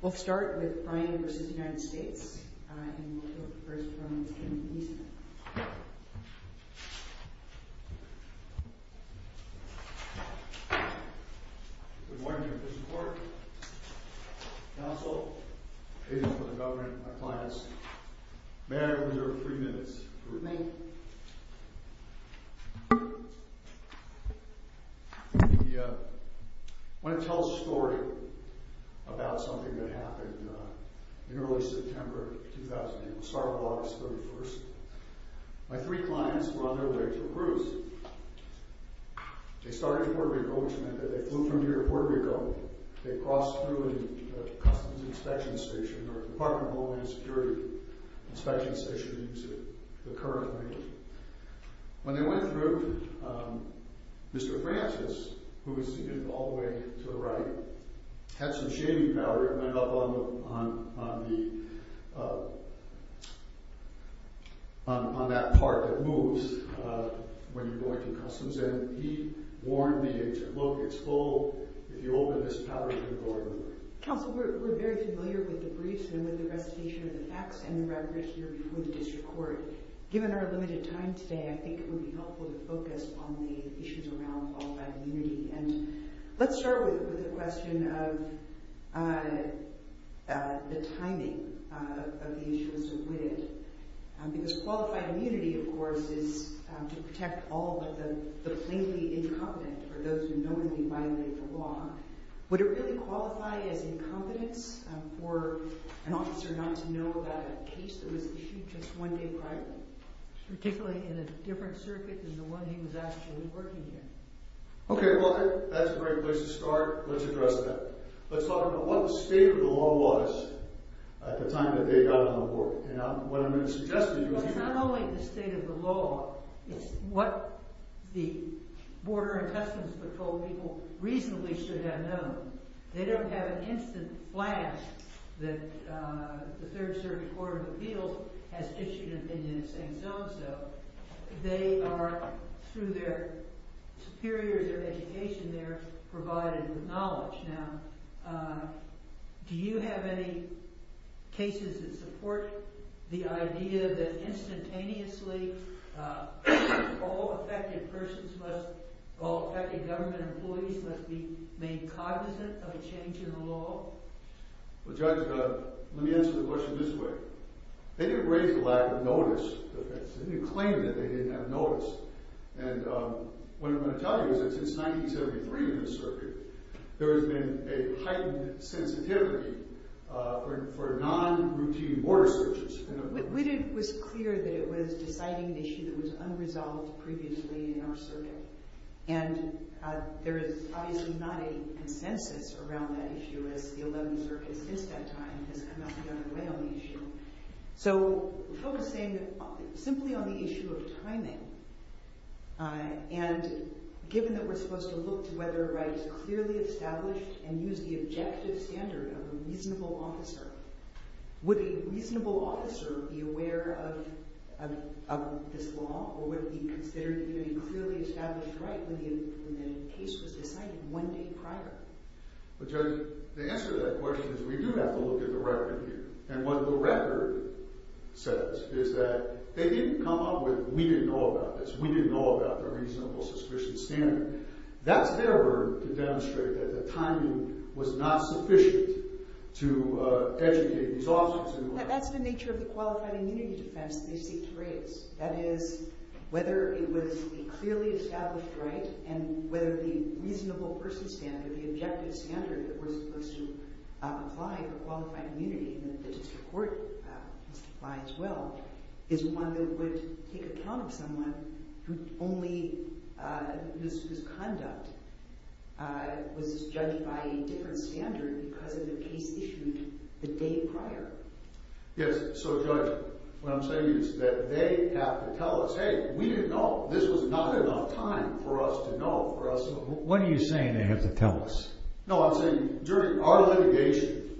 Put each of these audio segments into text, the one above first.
We'll start with Bryan v. United States, and we'll hear first from Tim Eastman. Good morning, Commissioned Court, Counsel, Agents for the Government, my clients. May I reserve three minutes? You may. I want to tell a story about something that happened in early September of 2008. We'll start with August 31st. My three clients were on their way to a cruise. They started in Puerto Rico, which meant that they flew from here to Puerto Rico. They crossed through a customs inspection station or a Department of Homeland Security inspection station to the current location. When they went through, Mr. Francis, who was seated all the way to the right, had some shaming power. It went up on that part that moves when you go into customs, and he warned the agent, look, it's full. If you open this power, you're going to burn. Counsel, we're very familiar with the briefs and with the recitation of the facts and the record here before the district court. Given our limited time today, I think it would be helpful to focus on the issues around qualified immunity. And let's start with the question of the timing of the issues with it. Qualified immunity, of course, is to protect all but the plainly incompetent or those who knowingly violate the law. Would it really qualify as incompetence for an officer not to know about a case that was issued just one day prior, particularly in a different circuit than the one he was actually working in? Okay, well, that's a great place to start. Let's address that. Let's talk about what the state of the law was at the time that they got on the board. Not only the state of the law, it's what the Border and Customs Patrol people reasonably should have known. They don't have an instant blast that the Third Circuit Court of Appeals has issued an opinion saying so-and-so. They are, through their superiors or education there, provided with knowledge. Do you have any cases that support the idea that instantaneously all affected persons, all affected government employees, must be made cognizant of a change in the law? Well, Judge, let me answer the question this way. They didn't raise the ladder of notice. They didn't claim that they didn't have notice. And what I'm going to tell you is that since 1973 in this circuit, there has been a heightened sensitivity for non-routine border searches. It was clear that it was deciding an issue that was unresolved previously in our circuit. And there is obviously not a consensus around that issue, as the 11th Circuit, since that time, has come out the other way on the issue. So we're focusing simply on the issue of timing. And given that we're supposed to look to whether a right is clearly established and use the objective standard of a reasonable officer, would a reasonable officer be aware of this law or would it be considered a clearly established right when the case was decided one day prior? But Judge, the answer to that question is we do have to look at the record here. And what the record says is that they didn't come up with, we didn't know about this, we didn't know about the reasonable suspicion standard. That's their word to demonstrate that the timing was not sufficient to educate these officers in the right way. That's the nature of the qualified immunity defense that they seek to raise. That is, whether it was a clearly established right and whether the reasonable person standard, the objective standard, that was supposed to apply for qualified immunity in the district court must apply as well, is one that would take account of someone whose conduct was judged by a different standard because of the case issued the day prior. Yes, so Judge, what I'm saying is that they have to tell us, hey, we didn't know. This was not enough time for us to know. What are you saying they have to tell us? No, I'm saying during our litigation,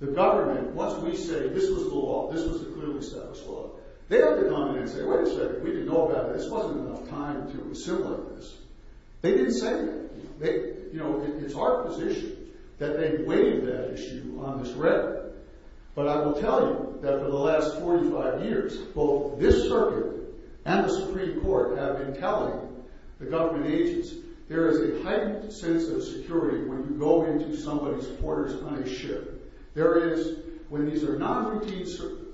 the government, once we say this was the law, this was the clearly established law, they have to come in and say, wait a second, we didn't know about it. This wasn't enough time to assimilate this. They didn't say that. It's our position that they weighed that issue on this record. But I will tell you that for the last 45 years, both this circuit and the Supreme Court have been telling the government agents there is a heightened sense of security when you go into somebody's quarters on a ship. There is, when these are non-routine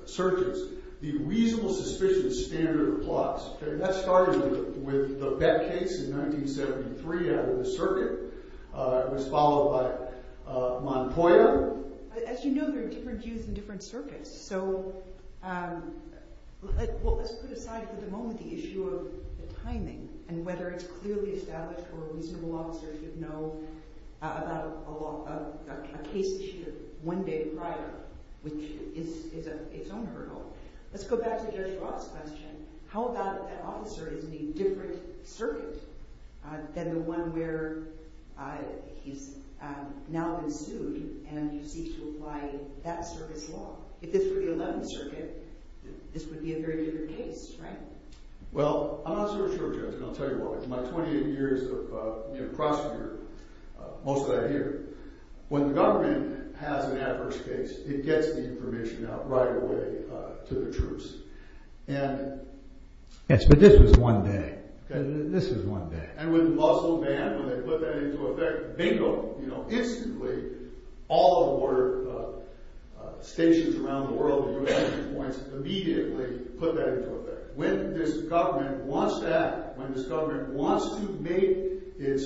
searches, the reasonable suspicion standard applies. That started with the Beck case in 1973 out of the circuit. It was followed by Montplier. As you know, there are different views in different circuits. So let's put aside for the moment the issue of the timing and whether it's clearly established or a reasonable officer should know about a case issued one day prior, which is its own hurdle. Let's go back to Judge Ross' question. How about if that officer is in a different circuit than the one where he's now been sued and you seek to apply that circuit's law? If this were the 11th Circuit, this would be a very different case, right? Well, I'm not so sure, Judge, and I'll tell you why. In my 28 years of prosecutor, most of that I hear, when the government has an adverse case, it gets the information out right away to the troops. Yes, but this was one day. This was one day. And with the muscle man, when they put that into effect, bingo. Instantly, all of our stations around the world immediately put that into effect. When this government wants to act, when this government wants to make its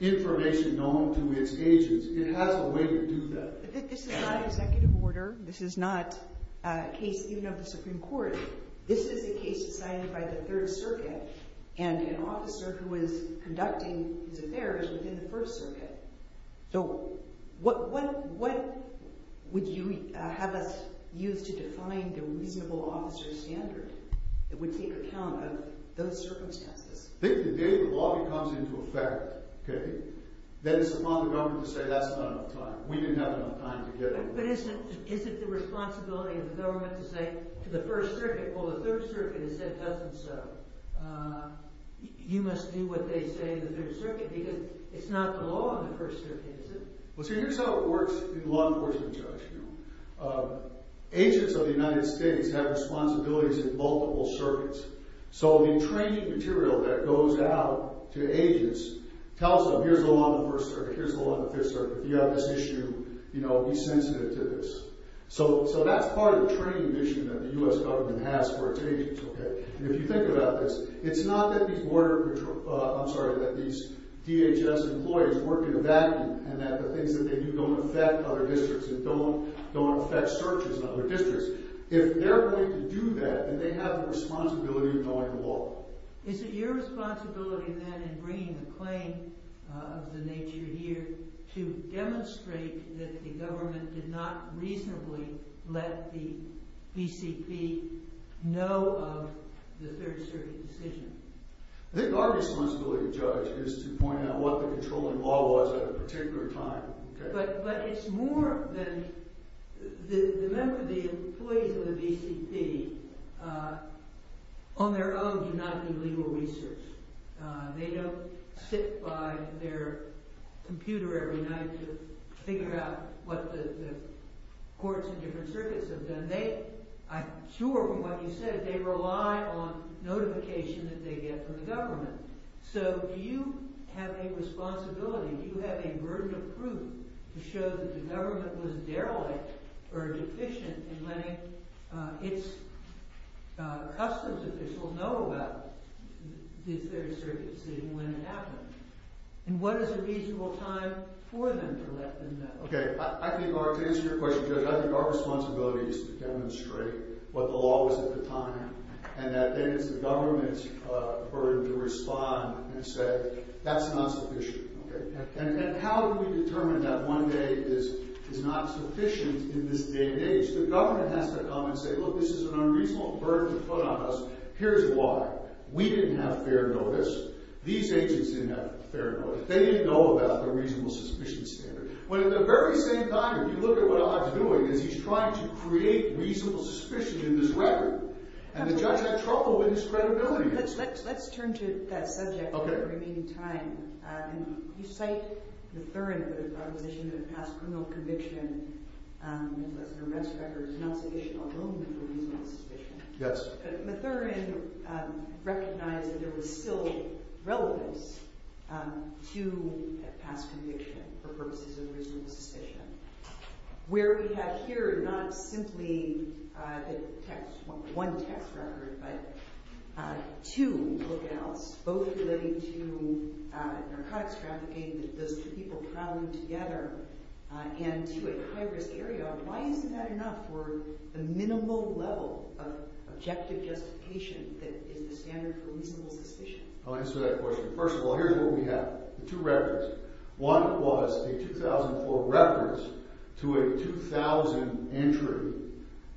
information known to its agents, it has a way to do that. But this is not an executive order. This is not a case even of the Supreme Court. This is a case decided by the 3rd Circuit, and an officer who is conducting his affairs within the 1st Circuit. So what would you have us use to define the reasonable officer standard that would take account of those circumstances? I think the day the law comes into effect, okay, then it's upon the government to say that's not enough time. We didn't have enough time to get it. But isn't the responsibility of the government to say to the 1st Circuit, well, the 3rd Circuit has said it doesn't so. You must do what they say in the 3rd Circuit, because it's not the law in the 1st Circuit, is it? Well, see, here's how it works in law enforcement, Judge. Agents of the United States have responsibilities in multiple circuits. So the training material that goes out to agents tells them here's the law in the 1st Circuit, here's the law in the 5th Circuit. If you have this issue, you know, be sensitive to this. So that's part of the training mission that the U.S. government has for its agents, okay? And if you think about this, it's not that these border patrol – I'm sorry, that these DHS employees work in a vacuum, and that the things that they do don't affect other districts and don't affect searches in other districts. If they're going to do that, then they have the responsibility of knowing the law. Is it your responsibility, then, in bringing the claim of the nature here, to demonstrate that the government did not reasonably let the BCP know of the 3rd Circuit decision? I think our responsibility, Judge, is to point out what the controlling law was at a particular time, okay? But it's more than – the employees of the BCP, on their own, do not do legal research. They don't sit by their computer every night to figure out what the courts in different circuits have done. They, I'm sure from what you said, they rely on notification that they get from the government. So do you have a responsibility, do you have a burden of proof to show that the government was derelict or deficient in letting its customs officials know about the 3rd Circuit decision when it happened? And what is a reasonable time for them to let them know? Okay. I think our – to answer your question, Judge, I think our responsibility is to demonstrate what the law was at the time and that then it's the government's burden to respond and say, that's not sufficient, okay? And how do we determine that one day is not sufficient in this day and age? The government has to come and say, look, this is an unreasonable burden to put on us. Here's why. We didn't have fair notice. These agents didn't have fair notice. They didn't know about the reasonable suspicion standard. But at the very same time, if you look at what Ahad's doing, is he's trying to create reasonable suspicion in this record. And the judge had trouble with his credibility. Let's turn to that subject for the remaining time. You cite Matherin for the proposition that a past criminal conviction was an arrest record. It's not sufficient, although, for reasonable suspicion. Yes. Matherin recognized that there was still relevance to a past conviction for purposes of reasonable suspicion. Where we have here not simply the text – one text record, but two lookouts, both relating to narcotics trafficking, those two people prowling together, and to a high-risk area. Why isn't that enough for the minimal level of objective justification that is the standard for reasonable suspicion? I'll answer that question. First of all, here's what we have. Two records. One was a 2004 reference to a 2000 entry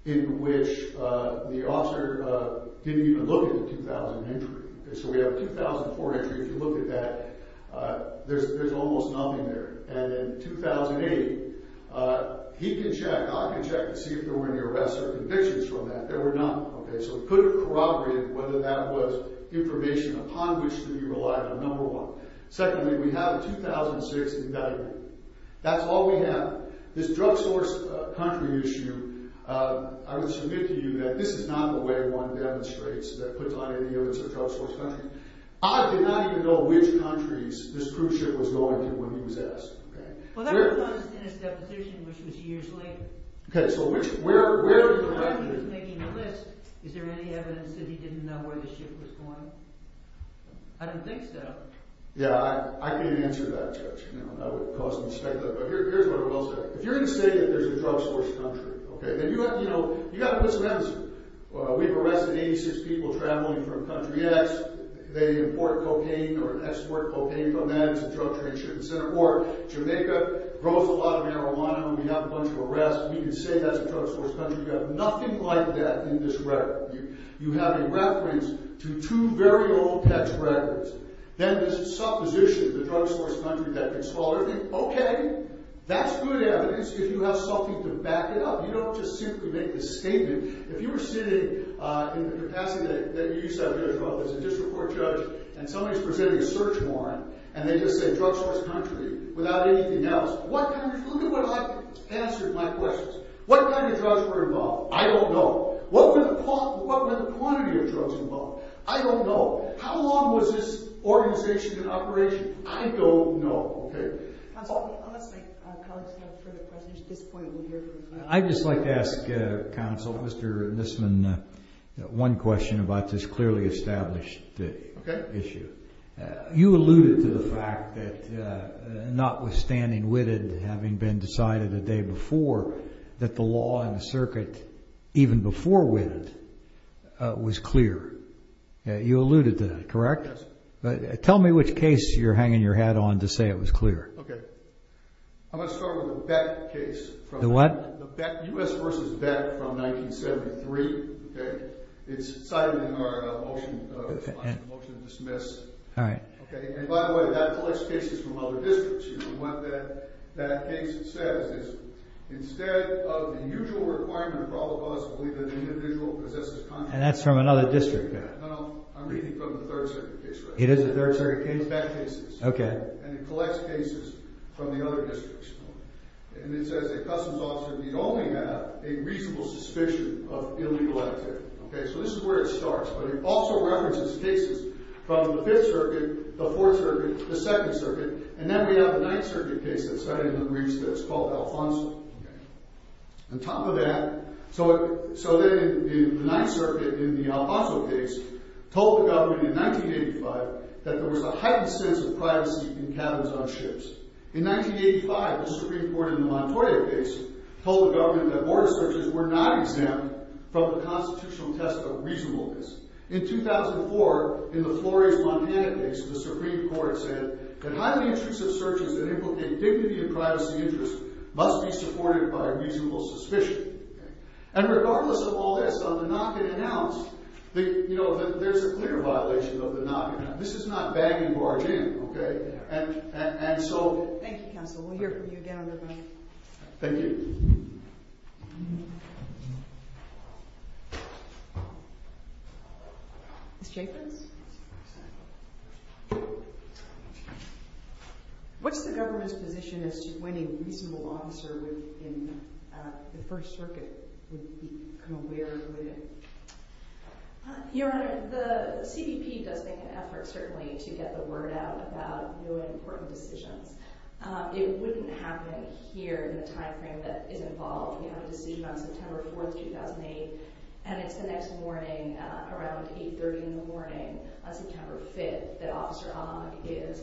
in which the officer didn't even look at the 2000 entry. So we have a 2004 entry. If you look at that, there's almost nothing there. And in 2008, he can check, I can check to see if there were any arrests or convictions from that. There were none. So it couldn't corroborate whether that was information upon which to be relied on, number one. Secondly, we have a 2006 evaluation. That's all we have. This drug-sourced country issue, I would submit to you that this is not the way one demonstrates that put on any of his drug-sourced country. I did not even know which countries this cruise ship was going to when he was asked. Well, that was in his deposition, which was years later. Okay, so where – When he was making the list, is there any evidence that he didn't know where the ship was going? I don't think so. Yeah, I can't answer that, Judge. That would cause me to speculate. But here's what I will say. If you're going to say that there's a drug-sourced country, okay, then, you know, you've got to put some evidence in. We've arrested 86 people traveling from country X. They import cocaine or export cocaine from them to drug trade ships. Or Jamaica grows a lot of marijuana, and we have a bunch of arrests. We can say that's a drug-sourced country. We have nothing like that in this record. You have a reference to two very old pet records. Then there's supposition, the drug-sourced country that gets swallowed. Okay, that's good evidence if you have something to back it up. You don't just simply make this statement. If you were sitting in the capacity that you used to have, Judge, as a district court judge, and somebody's presenting a search warrant, and they just say drug-sourced country without anything else, what kind of – look at what I've answered my questions. What kind of drugs were involved? I don't know. What were the quantity of drugs involved? I don't know. How long was this organization in operation? I don't know. Counsel, unless my colleagues have further questions, at this point we'll hear from you. I'd just like to ask counsel, Mr. Nisman, one question about this clearly established issue. You alluded to the fact that, notwithstanding Whitted having been decided the day before, that the law in the circuit, even before Whitted, was clear. You alluded to that, correct? Yes. Tell me which case you're hanging your hat on to say it was clear. Okay. I'm going to start with the Beck case. The what? U.S. v. Beck from 1973. It's cited in our motion to dismiss. All right. And, by the way, that police case is from other districts. What that case says is, instead of the usual requirement for all of us to believe that the individual possesses And that's from another district. No, no. I'm reading from the 3rd Circuit case right now. It is the 3rd Circuit case. It's the Beck case. Okay. And it collects cases from the other districts. And it says that customs officers need only have a reasonable suspicion of illegal activity. Okay, so this is where it starts. But it also references cases from the 5th Circuit, the 4th Circuit, the 2nd Circuit, and then we have the 9th Circuit case that's cited in the briefs that's called Alfonso. On top of that, so then the 9th Circuit in the Alfonso case told the government in 1985 that there was a heightened sense of privacy in cabins on ships. In 1985, the Supreme Court in the Montoya case told the government that border searches were not exempt from the constitutional test of reasonableness. In 2004, in the Flores-Montana case, the Supreme Court said that highly intrusive searches that implicate dignity and privacy interests must be supported by a reasonable suspicion. And regardless of all this, on the knock-and-announce, there's a clear violation of the knock-and-announce. This is not banging barge in, okay? And so... Thank you, counsel. We'll hear from you again on the vote. Thank you. Ms. Jacobs? What's the government's position as to when a reasonable officer in the 1st Circuit would become aware of who it is? Your Honor, the CBP does make an effort, certainly, to get the word out about really important decisions. It wouldn't happen here in the timeframe that is involved. We have a decision on September 4th, 2008, and it's the next morning, around 8.30 in the morning, on September 5th, that Officer Ogg is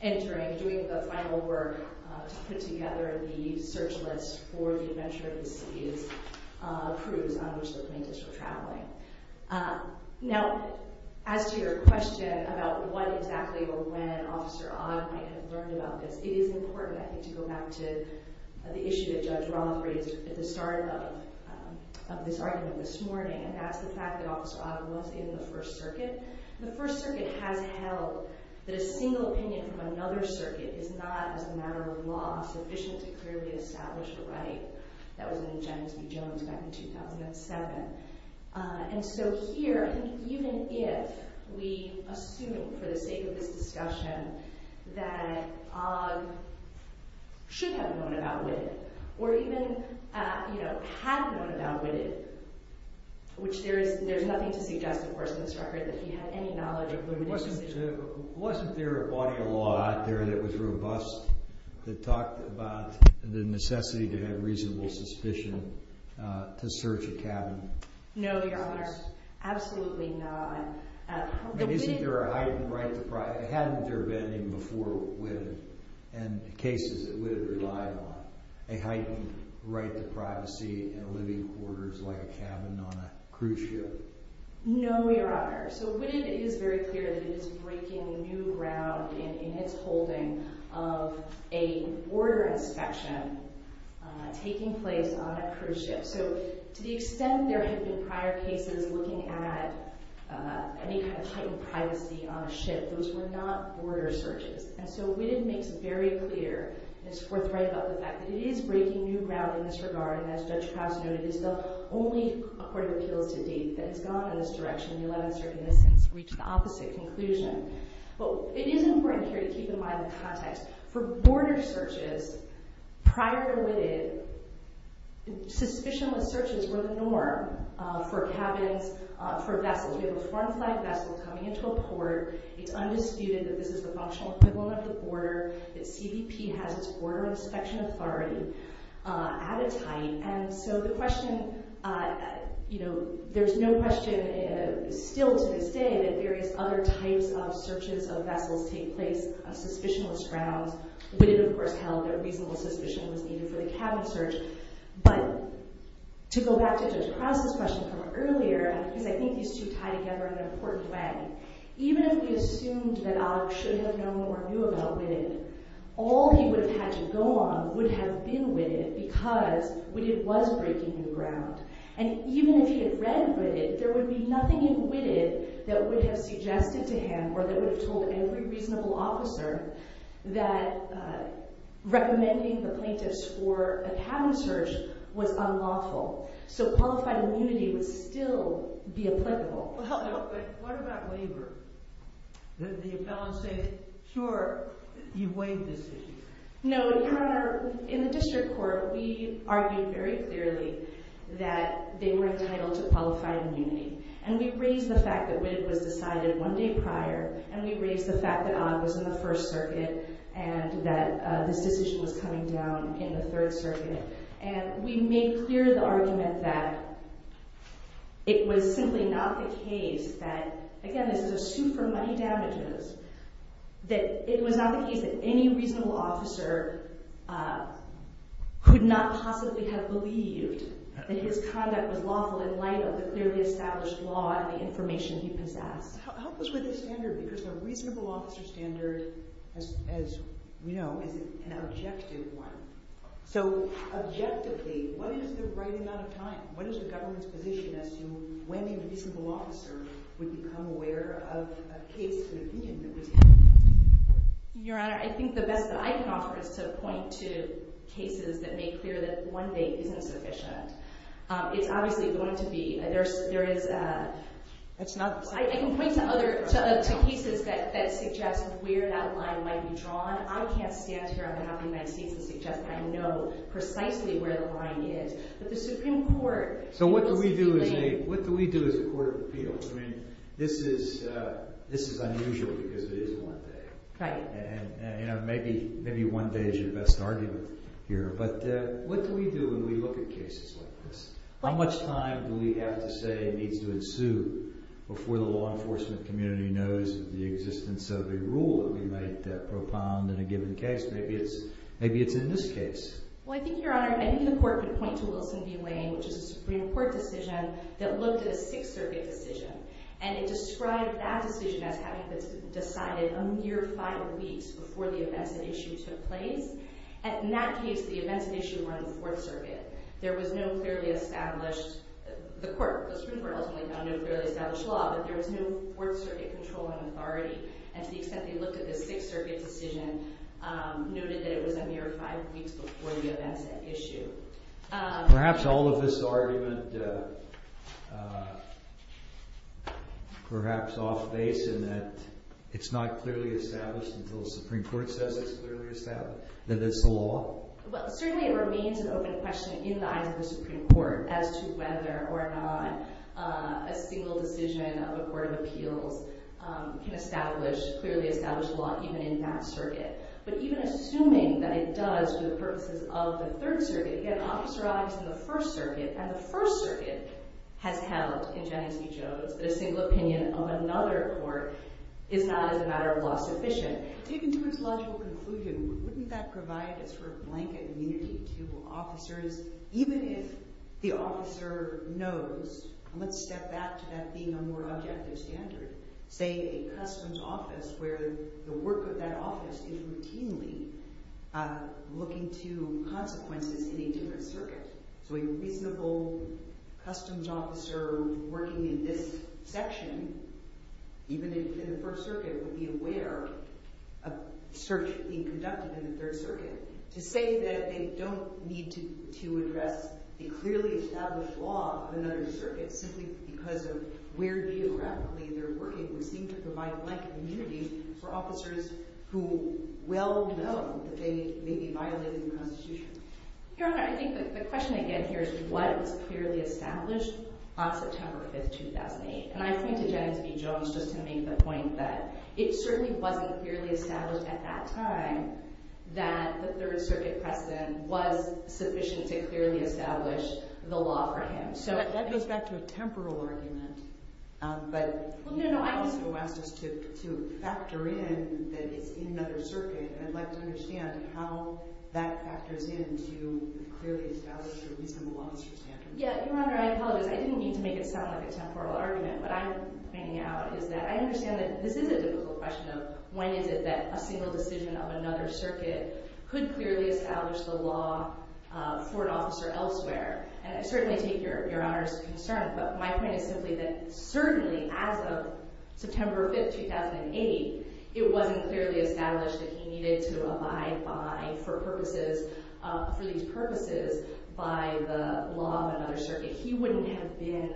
entering, doing the final work to put together the search list for the Adventure of the Seas cruise on which the plaintiffs were traveling. Now, as to your question about when exactly or when Officer Ogg might have learned about this, it is important, I think, to go back to the issue that Judge Roth raised at the start of this argument this morning, and that's the fact that Officer Ogg was in the 1st Circuit. The 1st Circuit has held that a single opinion from another circuit is not, as a matter of law, sufficient to clearly establish a right. That was an agenda to be joined back in 2007. And so here, I think even if we assume, for the sake of this discussion, that Ogg should have known about Whitted, or even had known about Whitted, which there is nothing to suggest, of course, in this record that he had any knowledge of Whitted. Wasn't there a body of law out there that was robust that talked about the necessity to have reasonable suspicion to search a cabin? No, Your Honor, absolutely not. But isn't there a heightened right to privacy? Hadn't there been even before Whitted, and cases that Whitted relied on, a heightened right to privacy in living quarters like a cabin on a cruise ship? No, Your Honor. So Whitted is very clear that it is breaking new ground in its holding of a border inspection taking place on a cruise ship. So to the extent there had been prior cases looking at any kind of heightened privacy on a ship, those were not border searches. And so Whitted makes it very clear, and it's forthright about the fact that it is breaking new ground in this regard, and as Judge Krause noted, it's the only court of appeals to date that has gone in this direction. The 11th Circuit has since reached the opposite conclusion. But it is important here to keep in mind the context. For border searches prior to Whitted, suspicionless searches were the norm for cabins, for vessels. We have a foreign flag vessel coming into a port. It's undisputed that this is the functional equivalent of the border, that CBP has its border inspection authority at its height. And so the question, you know, there's no question still to this day that various other types of searches of vessels take place on suspicionless grounds. Whitted, of course, held that reasonable suspicion was needed for the cabin search. But to go back to Judge Krause's question from earlier, because I think these two tie together in an important way, even if we assumed that Alec should have known or knew about Whitted, all he would have had to go on would have been Whitted because Whitted was breaking new ground. And even if he had read Whitted, there would be nothing in Whitted that would have suggested to him or that would have told every reasonable officer that recommending the plaintiffs for a cabin search was unlawful. So qualified immunity would still be applicable. But what about labor? The appellants say, sure, you've waived this issue. No, Your Honor, in the district court, we argued very clearly that they were entitled to qualified immunity. And we raised the fact that Whitted was decided one day prior, and we raised the fact that Odd was in the First Circuit and that this decision was coming down in the Third Circuit. And we made clear the argument that it was simply not the case that, again, this is a suit for money damages, that it was not the case that any reasonable officer could not possibly have believed that his conduct was lawful in light of the clearly established law and the information he possessed. Help us with the standard because the reasonable officer standard, as we know, is an objective one. So objectively, what is the right amount of time? What is the government's position as to when a reasonable officer would become aware of a case of an opinion that was held? Your Honor, I think the best that I can offer is to point to cases that make clear that one date isn't sufficient. It's obviously going to be – there is – I can point to other – to cases that suggest where that line might be drawn. I can't stand here on behalf of the United States and suggest that I know precisely where the line is. But the Supreme Court – So what do we do as a court of appeals? I mean, this is unusual because it is one day. Right. And, you know, maybe one day is your best argument here. But what do we do when we look at cases like this? How much time do we have to say needs to ensue before the law enforcement community knows of the existence of a rule that we might propound in a given case? Maybe it's in this case. Well, I think, Your Honor, maybe the court could point to Wilson v. Wayne, which is a Supreme Court decision that looked at a Sixth Circuit decision. And it described that decision as having been decided a mere five weeks before the events and issue took place. And in that case, the events and issue were in the Fourth Circuit. There was no clearly established – the Supreme Court ultimately found no clearly established law, but there was no Fourth Circuit control and authority. And to the extent they looked at the Sixth Circuit decision, noted that it was a mere five weeks before the events and issue. Perhaps all of this argument – perhaps off base in that it's not clearly established until the Supreme Court says it's clearly established, that it's the law? Well, certainly it remains an open question in the eyes of the Supreme Court as to whether or not a single decision of a court of appeals can clearly establish law even in that circuit. But even assuming that it does for the purposes of the Third Circuit – again, Officer Ott is in the First Circuit, and the First Circuit has held in Genesee Jones that a single opinion of another court is not, as a matter of law, sufficient. But taken to its logical conclusion, wouldn't that provide a sort of blanket immunity to officers even if the officer knows – and let's step back to that being a more objective standard – say a customs office where the work of that office is routinely looking to consequences in a different circuit. So a reasonable customs officer working in this section, even in the First Circuit, would be aware of search being conducted in the Third Circuit. To say that they don't need to address the clearly established law of another circuit simply because of where geographically they're working would seem to provide blanket immunity for officers who well know that they may be violating the Constitution. Your Honor, I think the question again here is what was clearly established on September 5, 2008. And I point to Genesee Jones just to make the point that it certainly wasn't clearly established at that time that the Third Circuit precedent was sufficient to clearly establish the law for him. So that goes back to a temporal argument. But you also asked us to factor in that it's in another circuit. And I'd like to understand how that factors in to clearly establish a reasonable officer standard. Yeah, Your Honor, I apologize. I didn't mean to make it sound like a temporal argument. What I'm bringing out is that I understand that this is a difficult question of when is it that a single decision of another circuit could clearly establish the law for an officer elsewhere. And I certainly take Your Honor's concern, but my point is simply that certainly as of September 5, 2008, it wasn't clearly established that he needed to abide by, for purposes, for these purposes, by the law of another circuit. He wouldn't have been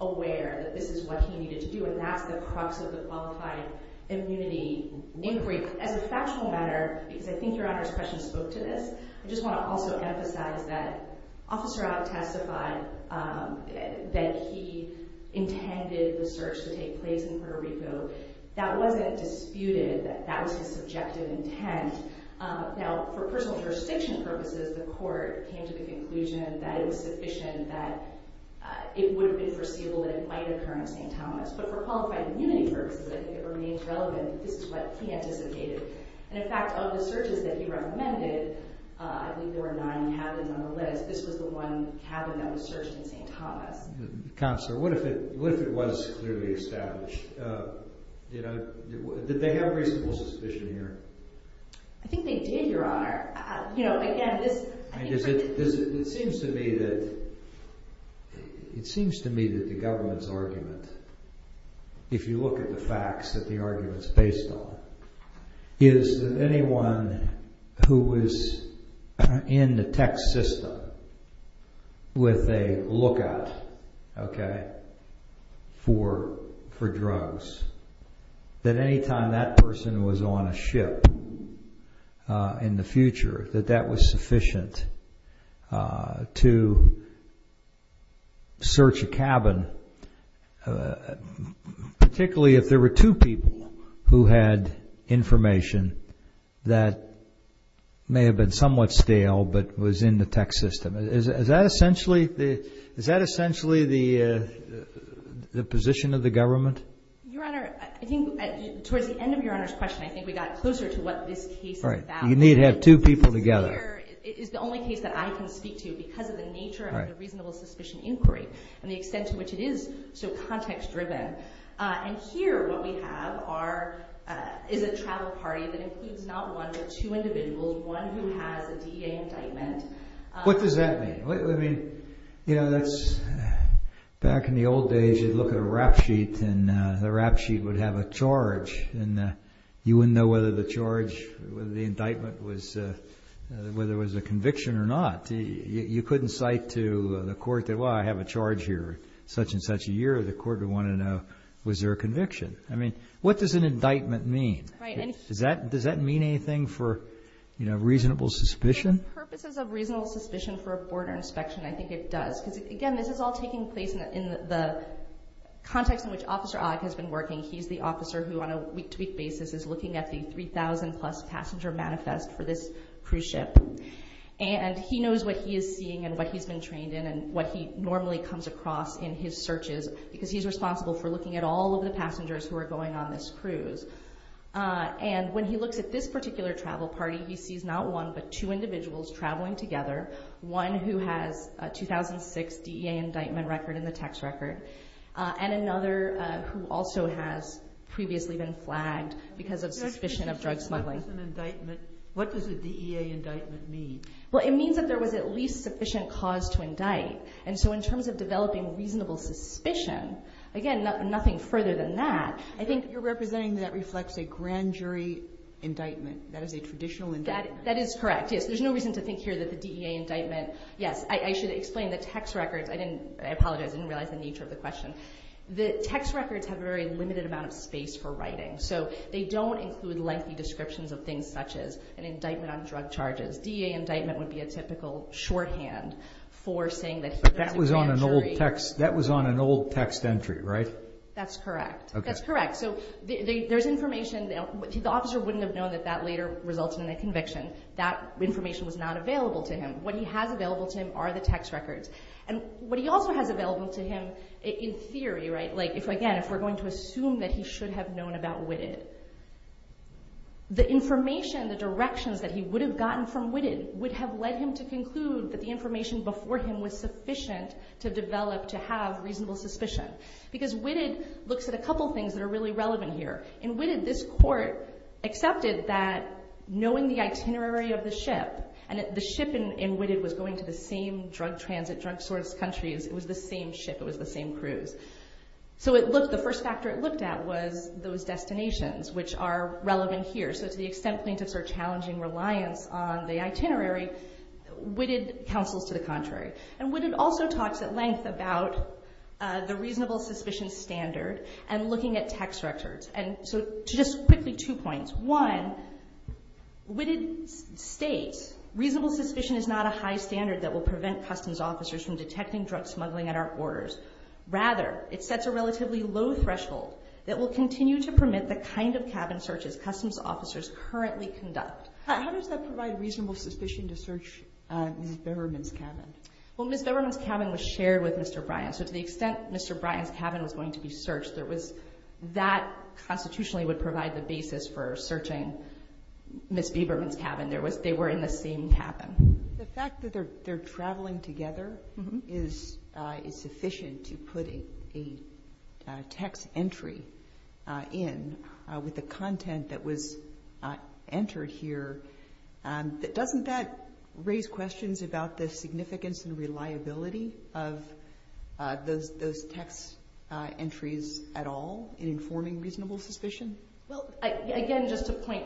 aware that this is what he needed to do, and that's the crux of the qualified immunity inquiry. As a factual matter, because I think Your Honor's question spoke to this, I just want to also emphasize that Officer Ott testified that he intended the search to take place in Puerto Rico. That wasn't disputed. That was his subjective intent. Now, for personal jurisdiction purposes, the court came to the conclusion that it was sufficient that it would have been foreseeable that it might occur in St. Thomas. But for qualified immunity purposes, I think it remains relevant that this is what he anticipated. And, in fact, of the searches that he recommended, I think there were nine cabins on the list. This was the one cabin that was searched in St. Thomas. Counselor, what if it was clearly established? Did they have reasonable suspicion here? I think they did, Your Honor. It seems to me that the government's argument, if you look at the facts that the argument is based on, is that anyone who was in the tech system with a lookout for drugs, that any time that person was on a ship in the future, that that was sufficient to search a cabin, particularly if there were two people who had information that may have been somewhat stale but was in the tech system. Is that essentially the position of the government? Your Honor, I think towards the end of Your Honor's question, I think we got closer to what this case is about. You need to have two people together. It is the only case that I can speak to because of the nature of the reasonable suspicion inquiry and the extent to which it is so context-driven. And here what we have is a travel party that includes not one but two individuals, one who has a DEA indictment. What does that mean? Well, I mean, you know, back in the old days, you'd look at a rap sheet and the rap sheet would have a charge, and you wouldn't know whether the charge, whether the indictment was a conviction or not. You couldn't cite to the court that, well, I have a charge here such and such a year. The court would want to know, was there a conviction? I mean, what does an indictment mean? Does that mean anything for reasonable suspicion? For purposes of reasonable suspicion for a border inspection, I think it does. Because, again, this is all taking place in the context in which Officer Ogg has been working. He's the officer who on a week-to-week basis is looking at the 3,000-plus passenger manifest for this cruise ship. And he knows what he is seeing and what he's been trained in and what he normally comes across in his searches because he's responsible for looking at all of the passengers who are going on this cruise. And when he looks at this particular travel party, he sees not one but two individuals traveling together, one who has a 2006 DEA indictment record in the tax record, and another who also has previously been flagged because of suspicion of drug smuggling. What does an indictment, what does a DEA indictment mean? Well, it means that there was at least sufficient cause to indict. And so in terms of developing reasonable suspicion, again, nothing further than that, I think you're representing that reflects a grand jury indictment. That is a traditional indictment. That is correct, yes. There's no reason to think here that the DEA indictment, yes, I should explain the tax records. I apologize. I didn't realize the nature of the question. The tax records have a very limited amount of space for writing. So they don't include lengthy descriptions of things such as an indictment on drug charges. DEA indictment would be a typical shorthand for saying that here is a grand jury. But that was on an old text entry, right? That's correct. That's correct. So there's information. The officer wouldn't have known that that later resulted in a conviction. That information was not available to him. What he has available to him are the tax records. And what he also has available to him in theory, right, like, again, if we're going to assume that he should have known about Witted, the information, the directions that he would have gotten from Witted would have led him to conclude that the information before him was sufficient to develop to have reasonable suspicion. Because Witted looks at a couple things that are really relevant here. In Witted, this court accepted that knowing the itinerary of the ship, and the ship in Witted was going to the same drug transit, drug source countries. It was the same ship. It was the same cruise. So the first factor it looked at was those destinations, which are relevant here. So to the extent plaintiffs are challenging reliance on the itinerary, Witted counsels to the contrary. And Witted also talks at length about the reasonable suspicion standard and looking at tax records. And so just quickly, two points. One, Witted states reasonable suspicion is not a high standard that will prevent customs officers from detecting drug smuggling at our borders. Rather, it sets a relatively low threshold that will continue to permit the kind of cabin searches customs officers currently conduct. How does that provide reasonable suspicion to search Ms. Beberman's cabin? Well, Ms. Beberman's cabin was shared with Mr. Bryant. So to the extent Mr. Bryant's cabin was going to be searched, that constitutionally would provide the basis for searching Ms. Beberman's cabin. They were in the same cabin. The fact that they're traveling together is sufficient to put a text entry in with the content that was entered here. Doesn't that raise questions about the significance and reliability of those text entries at all in informing reasonable suspicion? Well, again, just a point.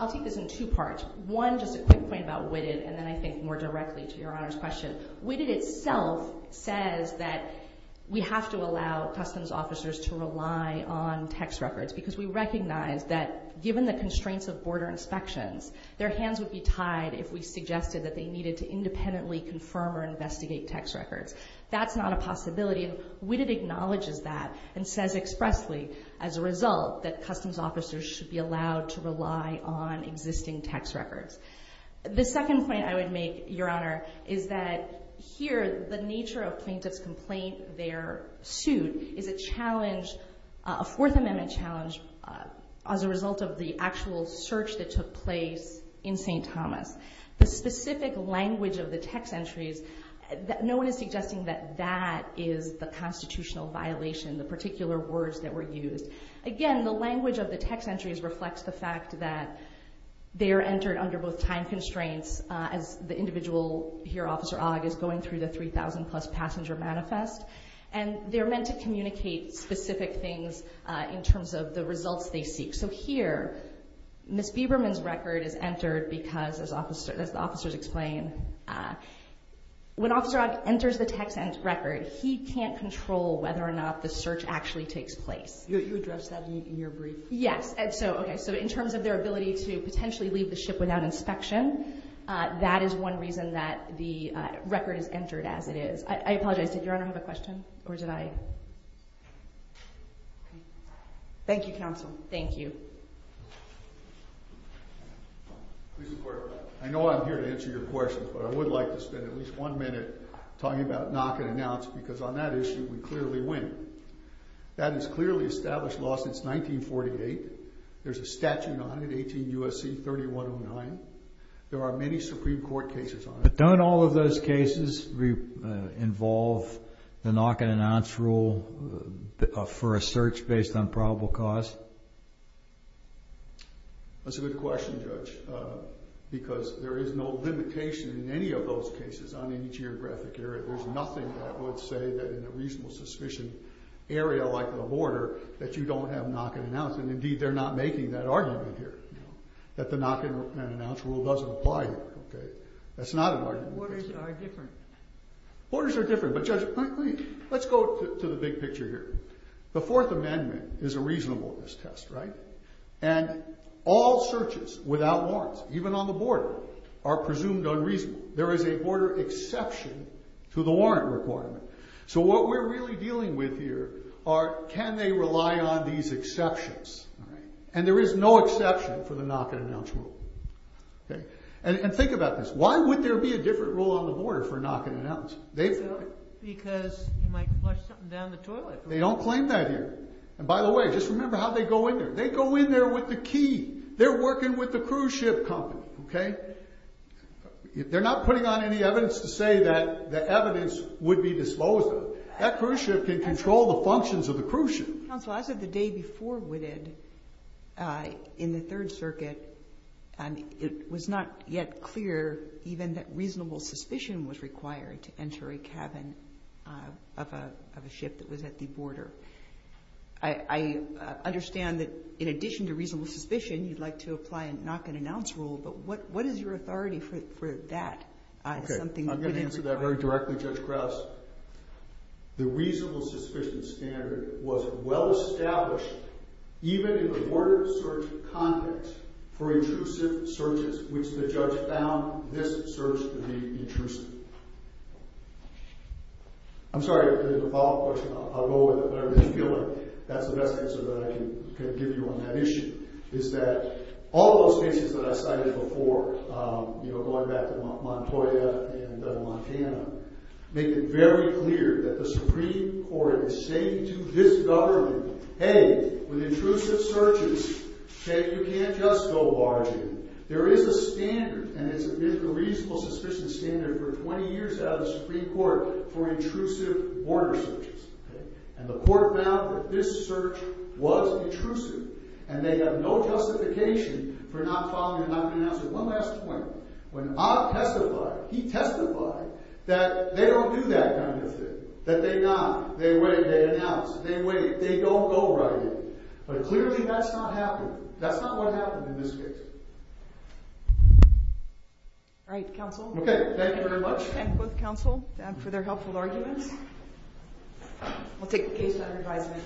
I'll take this in two parts. One, just a quick point about Witted, and then I think more directly to Your Honor's question. Witted itself says that we have to allow customs officers to rely on text records because we recognize that given the constraints of border inspections, their hands would be tied if we suggested that they needed to independently confirm or investigate text records. That's not a possibility. Witted acknowledges that and says expressly, as a result, that customs officers should be allowed to rely on existing text records. The second point I would make, Your Honor, is that here the nature of plaintiff's complaint, their suit, is a challenge, a Fourth Amendment challenge, as a result of the actual search that took place in St. Thomas. The specific language of the text entries, no one is suggesting that that is the constitutional violation, the particular words that were used. Again, the language of the text entries reflects the fact that they are entered under both time constraints, as the individual here, Officer Ogg, is going through the 3,000-plus passenger manifest, and they're meant to communicate specific things in terms of the results they seek. So here, Ms. Biberman's record is entered because, as the officers explain, when Officer Ogg enters the text record, he can't control whether or not the search actually takes place. You addressed that in your brief. Yes. Okay. So in terms of their ability to potentially leave the ship without inspection, that is one reason that the record is entered as it is. I apologize. Did Your Honor have a question, or did I? Thank you, Counsel. Thank you. I know I'm here to answer your questions, but I would like to spend at least one minute talking about knock and announce, because on that issue we clearly win. That is clearly established law since 1948. There's a statute on it, 18 U.S.C. 3109. There are many Supreme Court cases on it. But don't all of those cases involve the knock and announce rule for a search based on probable cause? That's a good question, Judge, because there is no limitation in any of those cases on any geographic area. There's nothing that would say that in a reasonable suspicion area like the border that you don't have knock and announce. And, indeed, they're not making that argument here, that the knock and announce rule doesn't apply here. That's not an argument. Borders are different. Borders are different. But, Judge, let's go to the big picture here. The Fourth Amendment is a reasonableness test, right? And all searches without warrants, even on the border, are presumed unreasonable. There is a border exception to the warrant requirement. So what we're really dealing with here are can they rely on these exceptions. And there is no exception for the knock and announce rule. And think about this. Why would there be a different rule on the border for knock and announce? Because you might flush something down the toilet. They don't claim that here. And, by the way, just remember how they go in there. They go in there with the key. They're working with the cruise ship company, okay? They're not putting on any evidence to say that the evidence would be disclosed on them. That cruise ship can control the functions of the cruise ship. Counsel, as of the day before Whitted, in the Third Circuit, it was not yet clear even that reasonable suspicion was required to enter a cabin of a ship that was at the border. I understand that, in addition to reasonable suspicion, you'd like to apply a knock and announce rule. But what is your authority for that? Okay. I'm going to answer that very directly, Judge Krause. The reasonable suspicion standard was well established, even in the border search context, for intrusive searches, which the judge found this search to be intrusive. I'm sorry. There's a follow-up question. I'll go with it. But I really feel like that's the best answer that I can give you on that issue, is that all those cases that I cited before, you know, going back to Montoya and Montana, make it very clear that the Supreme Court is saying to this government, Hey, with intrusive searches, you can't just go barging. There is a standard, and it's a reasonable suspicion standard for 20 years out of the Supreme Court for intrusive border searches. And the court found that this search was intrusive, and they have no justification for not following a knock and announce. But clearly that's not happening. That's not what happened in this case. All right, counsel. Okay. Thank you very much. Thank both counsel for their helpful arguments. We'll take the case to under advisement.